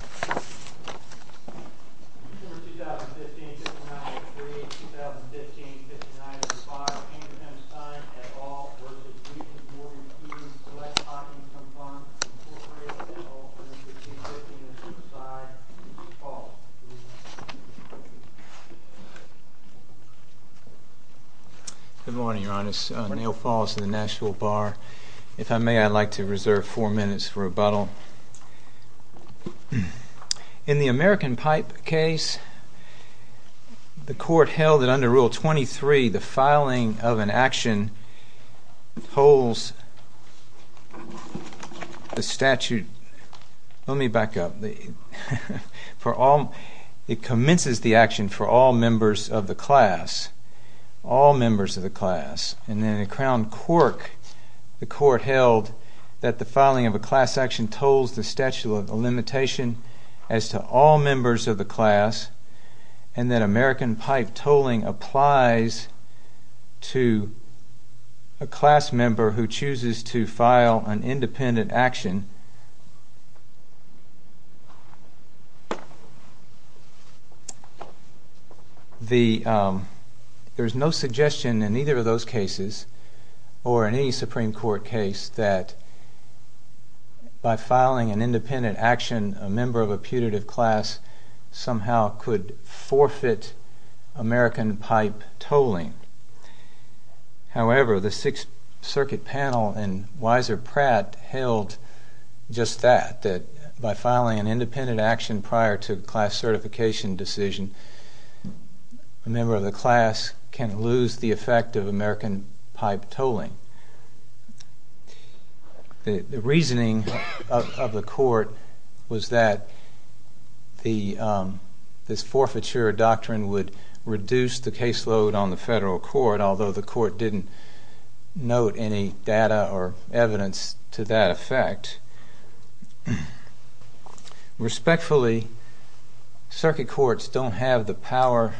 Incorporated, LLC, 1515 and the Suicide, Keegan Falls. Good morning, Your Honor. Neil Falls, of the Nashville Bar. If I may, I'd like to reserve four minutes for rebuttal. In the American Pipe case, the court held that under Rule 23, the filing of an action holds the statute, let me back up, for all, it commences the action for all members of the class, all members of the class, and then in the Crown Cork, the court held that the statute holds the statute of limitation as to all members of the class, and that American Pipe tolling applies to a class member who chooses to file an independent action. And there's no suggestion in either of those cases, or in any Supreme Court case, that by filing an independent action, a member of a putative class somehow could forfeit American Pipe tolling. However, the Sixth Circuit panel and Weiser Pratt held just that, that by filing an independent action prior to a class certification decision, a member of the class can lose the effect of American Pipe tolling. The reasoning of the court was that this forfeiture doctrine would reduce the caseload on the federal court, although the court didn't note any data or evidence to that effect. Respectfully, circuit courts don't have the power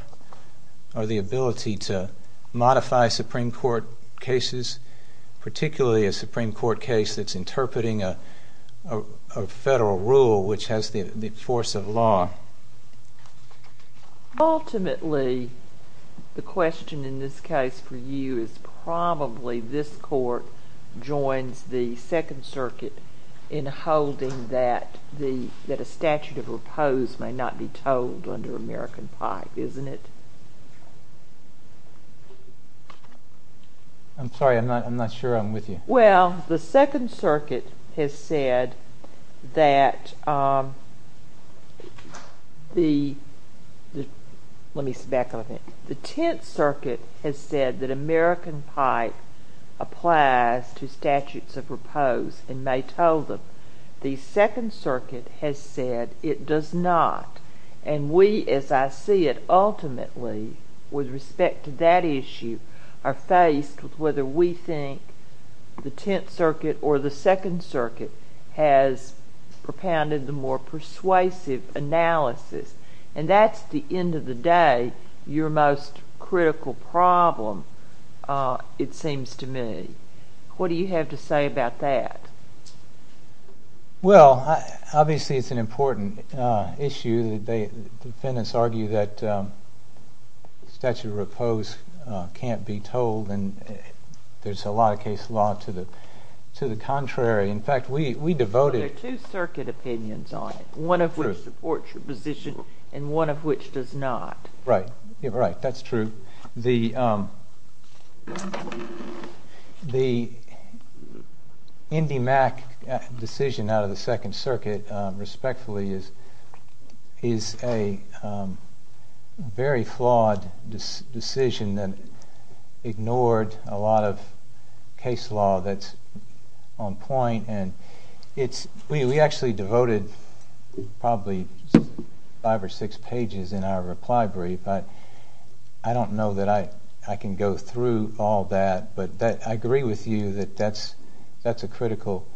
or the ability to modify Supreme Court cases, particularly a Supreme Court case that's interpreting a federal rule which has the force of law. Ultimately, the question in this case for you is probably this court joins the Second Circuit in holding that a statute of repose may not be tolled under American Pipe, isn't it? I'm sorry, I'm not sure I'm with you. Well, the Second Circuit has said that, let me step back a little bit, the Tenth Circuit has said that American Pipe applies to statutes of repose and may toll them. The Second Circuit has said it does not, and we, as I see it, ultimately, with respect to that issue, are faced with whether we think the Tenth Circuit or the Second Circuit has propounded the more persuasive analysis. And that's, at the end of the day, your most critical problem, it seems to me. What do you have to say about that? Well, obviously, it's an important issue. Defendants argue that statute of repose can't be tolled, and there's a lot of case law to the contrary. In fact, we devoted... But there are two circuit opinions on it, one of which supports your position and one of which does not. Right, that's true. The IndyMac decision out of the Second Circuit, respectfully, is a very flawed decision that ignored a lot of case law that's on point, and we actually devoted probably five or six I don't know that I can go through all that, but I agree with you that that's a critical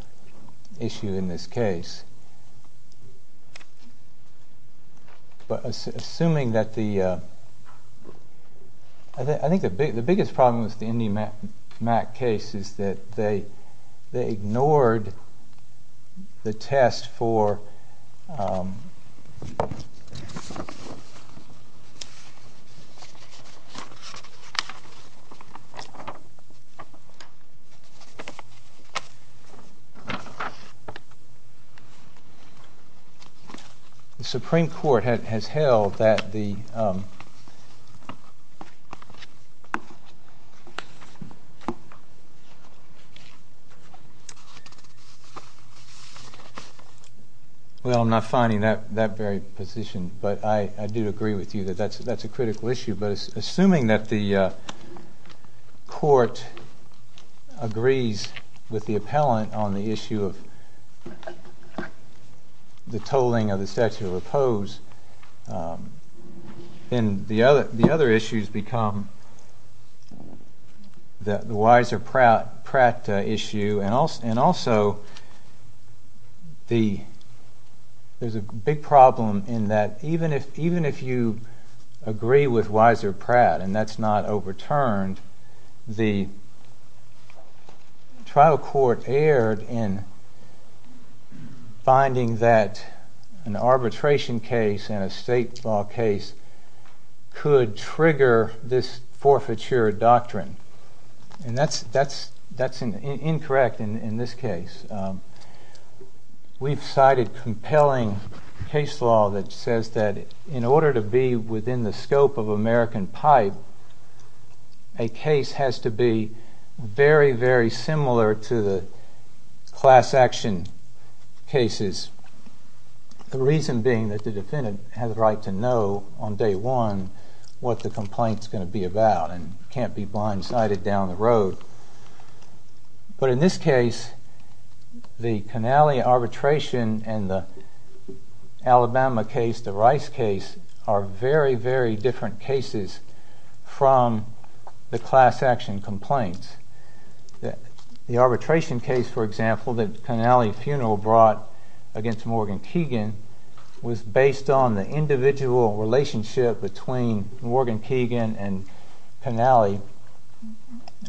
issue in this case. But assuming that the... Well, I'm not finding that very position, but I do agree with you that that's a critical issue, but assuming that the court agrees with the appellant on the issue of the tolling of the statute of repose, then the other issues become the Weiser-Pratt issue, and also there's a big problem in that even if you agree with Weiser-Pratt and that's not overturned, the trial court erred in finding that an arbitration case and a state law case could trigger this forfeiture doctrine, and that's incorrect in this case. We've cited compelling case law that says that in order to be within the scope of American pipe, a case has to be very, very similar to the class action cases, the reason being that the defendant has a right to know on day one what the complaint's going to be about and can't be blindsided down the road. But in this case, the Canale arbitration and the Alabama case, the Rice case, are very, very different cases from the class action complaints. The arbitration case, for example, the Canale funeral brought against Morgan Keegan was based on the individual relationship between Morgan Keegan and Canale.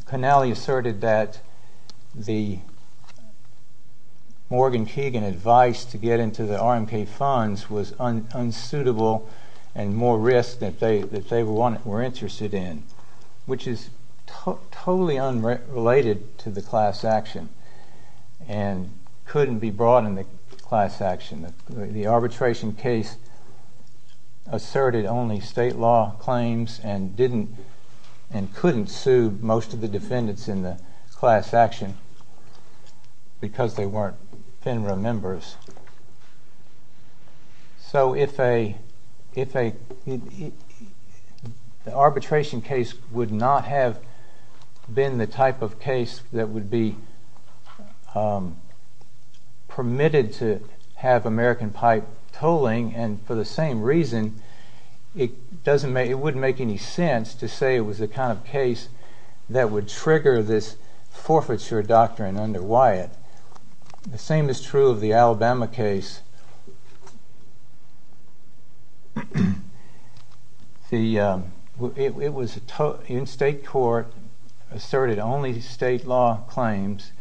Canale asserted that the Morgan Keegan advice to get into the RMK funds was unsuitable and more risk than they were interested in, which is totally unrelated to the class action. The arbitration case asserted only state law claims and couldn't sue most of the defendants in the class action because they weren't FINRA members. So the arbitration case would not have been the have American pipe tolling, and for the same reason, it wouldn't make any sense to say it was the kind of case that would trigger this forfeiture doctrine under Wyatt. The same is true of the Alabama case. It was in state court, asserted only state law claims,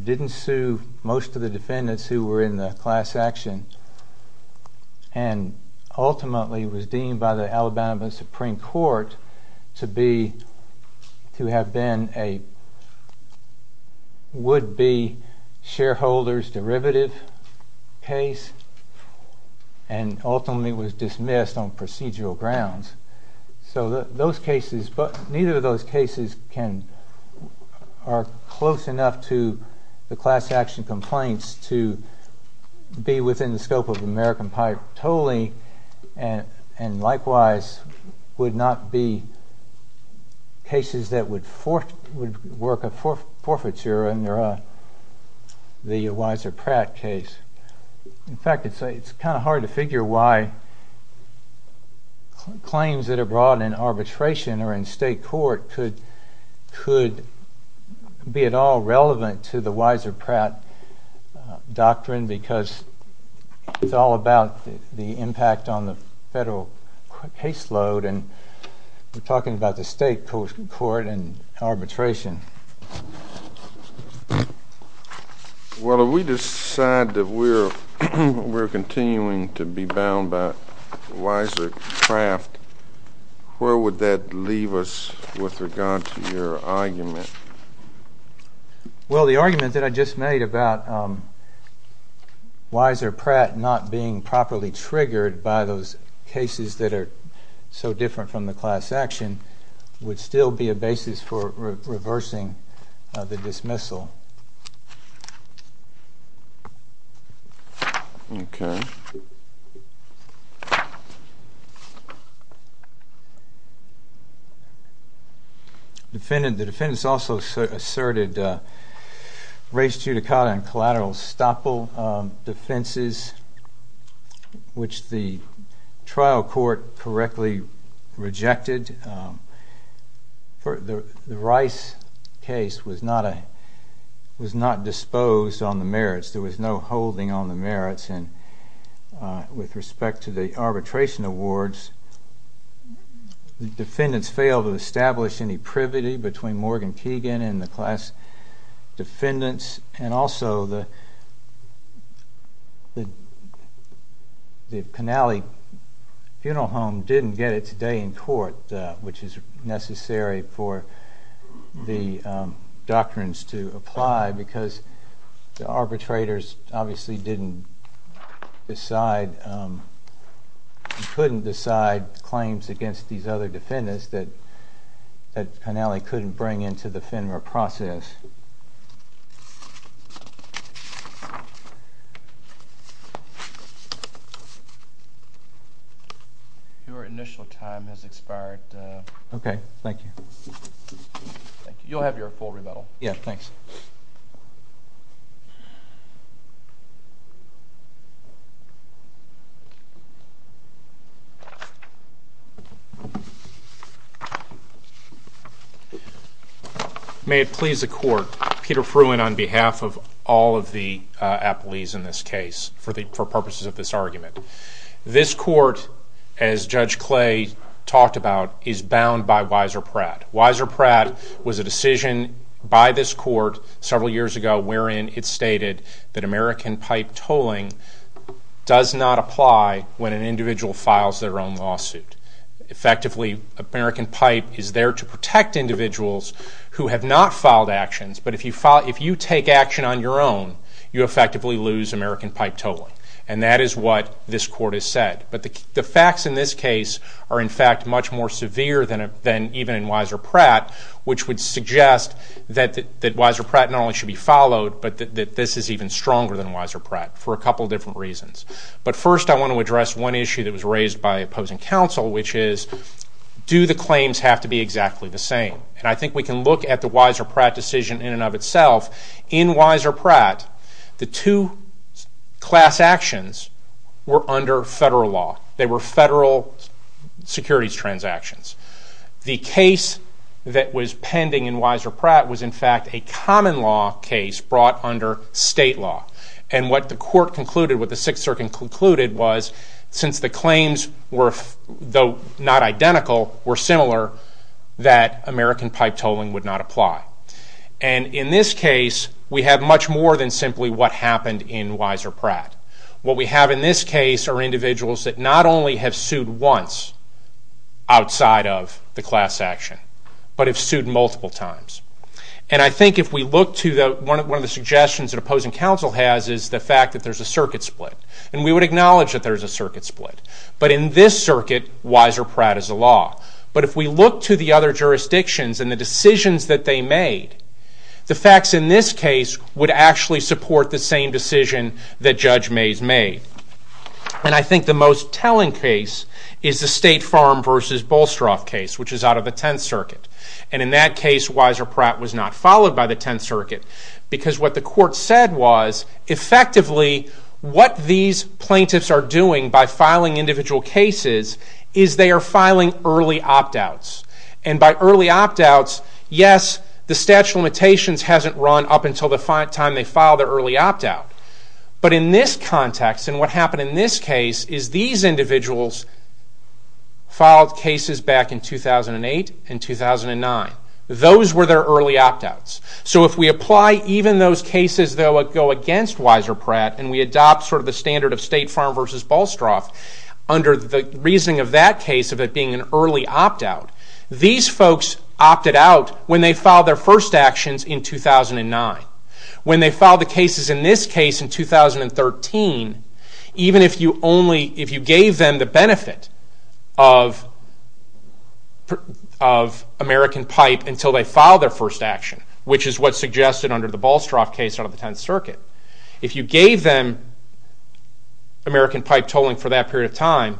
didn't sue most of the defendants who were in the class action, and ultimately was deemed by the Alabama Supreme Court to have been a would-be shareholder's derivative case, and ultimately was dismissed on procedural grounds. So those cases, but neither of those cases are close enough to the class action complaints to be within the scope of American pipe tolling, and likewise would not be cases that would work a forfeiture under the Weiser-Pratt case. In fact, it's kind of hard to figure why claims that are brought in arbitration or in state court could be at all relevant to the Weiser-Pratt doctrine because it's all about the federal caseload, and we're talking about the state court and arbitration. Well, if we decide that we're continuing to be bound by Weiser-Pratt, where would that leave us with regard to your argument? Well, the argument that I just made about Weiser-Pratt not being properly triggered by those cases that are so different from the class action would still be a basis for reversing the dismissal. The defendants also asserted res judicata and collateral estoppel defenses, which the trial court correctly rejected. The Rice case was not disposed on the merits. There was no holding on the merits, and with respect to the arbitration awards, the defendants failed to establish any privity between Morgan Keegan and the class defendants, and also the which is necessary for the doctrines to apply because the arbitrators obviously couldn't decide claims against these other defendants that Your initial time has expired. Okay, thank you. You'll have your full rebuttal. Yeah, thanks. May it please the court, Peter Fruin on behalf of all of the appellees in this case for purposes of this argument. This court, as Judge Clay talked about, is bound by Weiser-Pratt. Weiser-Pratt was a decision by this court several years ago wherein it stated that American pipe tolling does not apply when an individual files their own lawsuit. Effectively, American pipe is there to protect individuals who have not filed actions, but if you take action on your own, you effectively lose American pipe tolling. And that is what this court has said. But the facts in this case are, in fact, much more severe than even in Weiser-Pratt, which would suggest that Weiser-Pratt not only should be followed, but that this is even stronger than Weiser-Pratt for a couple different reasons. But first, I want to address one issue that was raised by opposing counsel, which is, do the claims have to be exactly the same? And I think we can look at the Weiser-Pratt decision in and of itself. In Weiser-Pratt, the two class actions were under federal law. They were federal securities transactions. The case that was pending in Weiser-Pratt was, in fact, a common law case brought under state law. And what the court concluded, what the Sixth Circuit concluded was, since the claims were, though not identical, were similar, that American pipe tolling would not apply. And in this case, we have much more than simply what happened in Weiser-Pratt. What we have in this case are individuals that not only have sued once outside of the class action, but have sued multiple times. And I think if we look to one of the suggestions that opposing counsel has is the fact that there's a circuit split. And we would acknowledge that there's a circuit split. But in this circuit, Weiser-Pratt is the law. But if we look to the other jurisdictions and the decisions that they made, the facts in this case would actually support the same decision that Judge Mays made. And I think the most telling case is the State Farm v. Bolstroff case, which is out of the Tenth Circuit. And in that case, Weiser-Pratt was not followed by the Tenth Circuit. Because what the court said was, effectively, what these plaintiffs are doing by filing individual cases is they are filing early opt-outs. And by early opt-outs, yes, the statute of limitations hasn't run up until the time they file the early opt-out. But in this context, and what happened in this case, is these individuals filed cases back in 2008 and 2009. Those were their early opt-outs. So if we apply even those cases that would go against Weiser-Pratt, and we adopt sort of the standard of State Farm v. Bolstroff, under the reasoning of that case of it being an early opt-out, these folks opted out when they filed their first actions in 2009. When they filed the cases in this case in 2013, even if you gave them the benefit of American Pipe until they filed their first action, which is what's suggested under the Bolstroff case out of the Tenth Circuit, if you gave them American Pipe tolling for that period of time,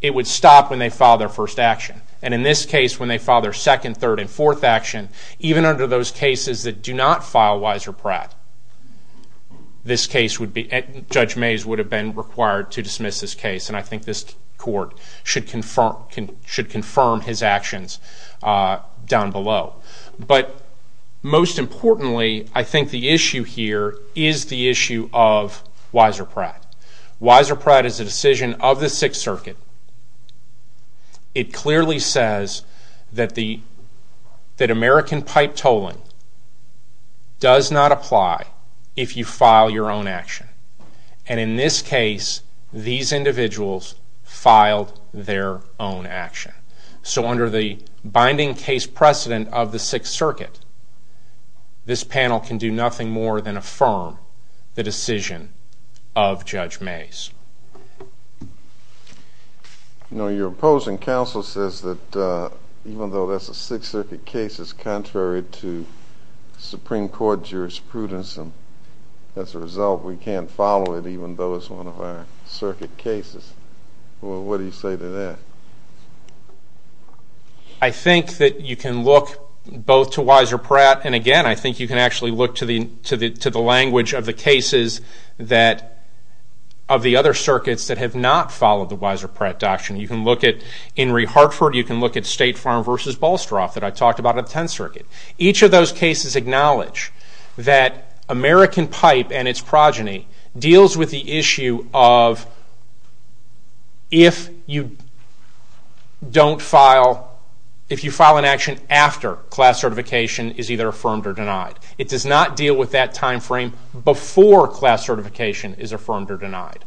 it would stop when they filed their first action. And in this case, when they filed their second, third, and fourth action, even under those cases that do not file Weiser-Pratt, Judge Mays would have been required to dismiss this case, and I think this Court should confirm his actions down below. But most importantly, I think the issue here is the issue of Weiser-Pratt. Weiser-Pratt is a decision of the Sixth Circuit. It clearly says that American Pipe tolling does not apply if you file your own action. And in this case, these individuals filed their own action. So under the binding case precedent of the Sixth Circuit, this panel can do nothing more than affirm the decision of Judge Mays. You know, your opposing counsel says that even though that's a Sixth Circuit case, it's contrary to Supreme Court jurisprudence, and as a result, we can't follow it even though it's one of our Circuit cases. Well, what do you say to that? I think that you can look both to Weiser-Pratt, and again, I think you can actually look to the language of the cases of the other Circuits that have not followed the Weiser-Pratt Doctrine. You can look at Henry Hartford, you can look at State Farm v. Balstroff that I talked about in the Tenth Circuit. Each of those cases acknowledge that American Pipe and its progeny deals with the issue of if you file an action after class certification is either affirmed or denied. It does not deal with that time frame before class certification is affirmed or denied.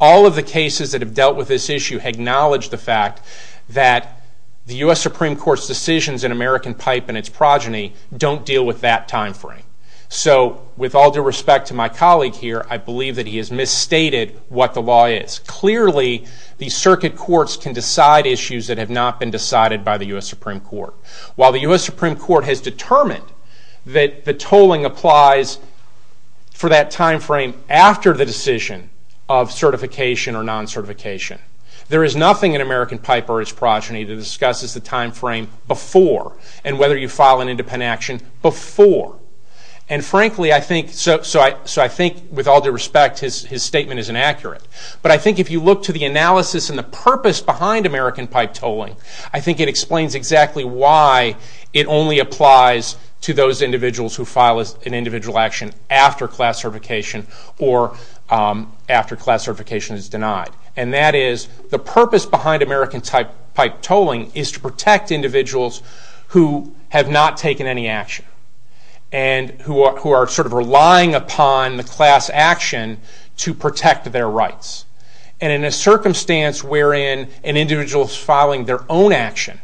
All of the cases that have dealt with this issue acknowledge the fact that the U.S. Supreme Court's decisions in American Pipe and its progeny don't deal with that time frame. So with all due respect to my colleague here, I believe that he has misstated what the law is. Clearly, the Circuit courts can decide issues that have not been decided by the U.S. Supreme Court. While the U.S. Supreme Court has determined that the tolling applies for that time frame after the decision of certification or non-certification, there is nothing in American Pipe or its progeny that discusses the time frame before and whether you file an independent action before. And frankly, I think with all due respect, his statement is inaccurate. But I think if you look to the analysis and the purpose behind American Pipe tolling, I think it explains exactly why it only applies to those individuals who file an individual action after class certification or after class certification is denied. And that is the purpose behind American Pipe tolling is to protect individuals who have not taken any action and who are sort of relying upon the class action to protect their rights. And in a circumstance wherein an individual is filing their own action,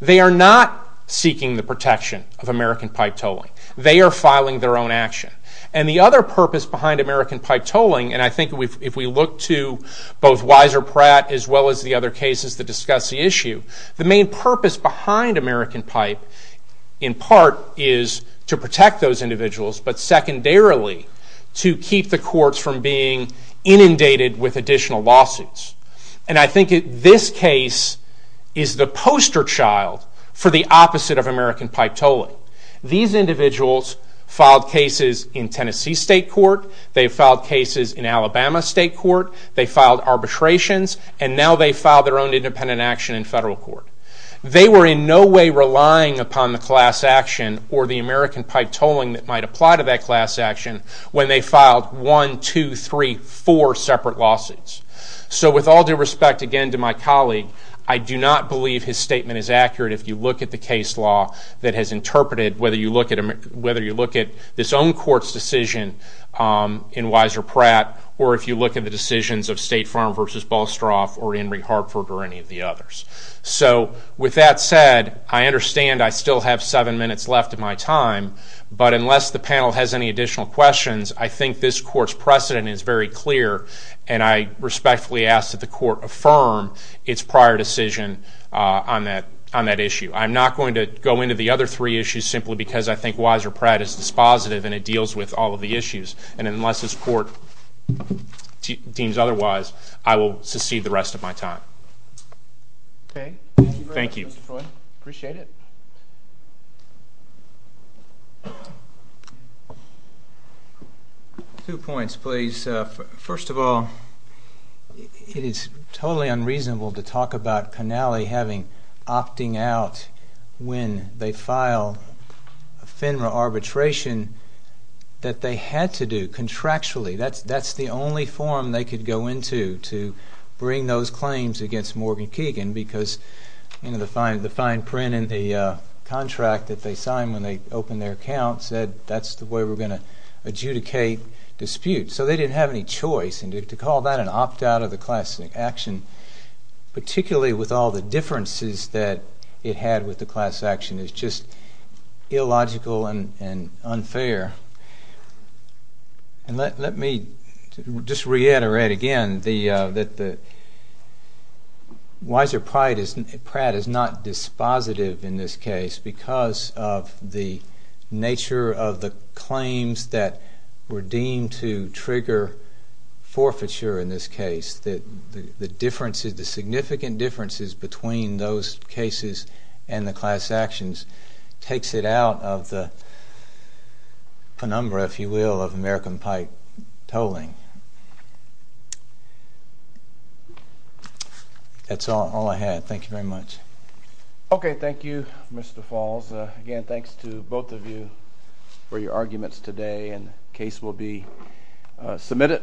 they are not seeking the protection of American Pipe tolling. They are filing their own action. And the other purpose behind American Pipe tolling, and I think if we look to both Wiser Pratt as well as the other cases that discuss the issue, the main purpose behind American Pipe in part is to protect those individuals, but secondarily to keep the courts from being inundated with additional lawsuits. And I think this case is the poster child for the opposite of American Pipe tolling. These individuals filed cases in Tennessee state court. They filed cases in Alabama state court. They filed arbitrations, and now they file their own independent action in federal court. They were in no way relying upon the class action or the American Pipe tolling that might apply to that class action when they filed one, two, three, four separate lawsuits. So with all due respect again to my colleague, I do not believe his statement is accurate if you look at the case law that has interpreted, whether you look at this own court's decision in Wiser Pratt or if you look at the decisions of State Farm v. Balstroff or Henry Hartford or any of the others. So with that said, I understand I still have seven minutes left of my time, but unless the panel has any additional questions, I think this court's precedent is very clear, and I respectfully ask that the court affirm its prior decision on that issue. I'm not going to go into the other three issues simply because I think Wiser Pratt is dispositive and it deals with all of the issues, and unless this court deems otherwise, I will secede the rest of my time. Okay. Thank you very much, Mr. Troy. Thank you. Appreciate it. Two points, please. First of all, it is totally unreasonable to talk about Connelly opting out when they file a FINRA arbitration that they had to do contractually. That's the only forum they could go into to bring those claims against Morgan Keegan because the fine print in the contract that they signed when they opened their account said that's the way we're going to adjudicate disputes. So they didn't have any choice. And to call that an opt-out of the class action, particularly with all the differences that it had with the class action, is just illogical and unfair. And let me just reiterate again that Wiser Pratt is not dispositive in this case because of the nature of the claims that were deemed to trigger forfeiture in this case, that the differences, the significant differences between those cases and the class actions takes it out of the penumbra, if you will, of American pipe tolling. That's all I had. Thank you very much. Okay. Thank you, Mr. Falls. Again, thanks to both of you for your arguments today. And the case will be submitted.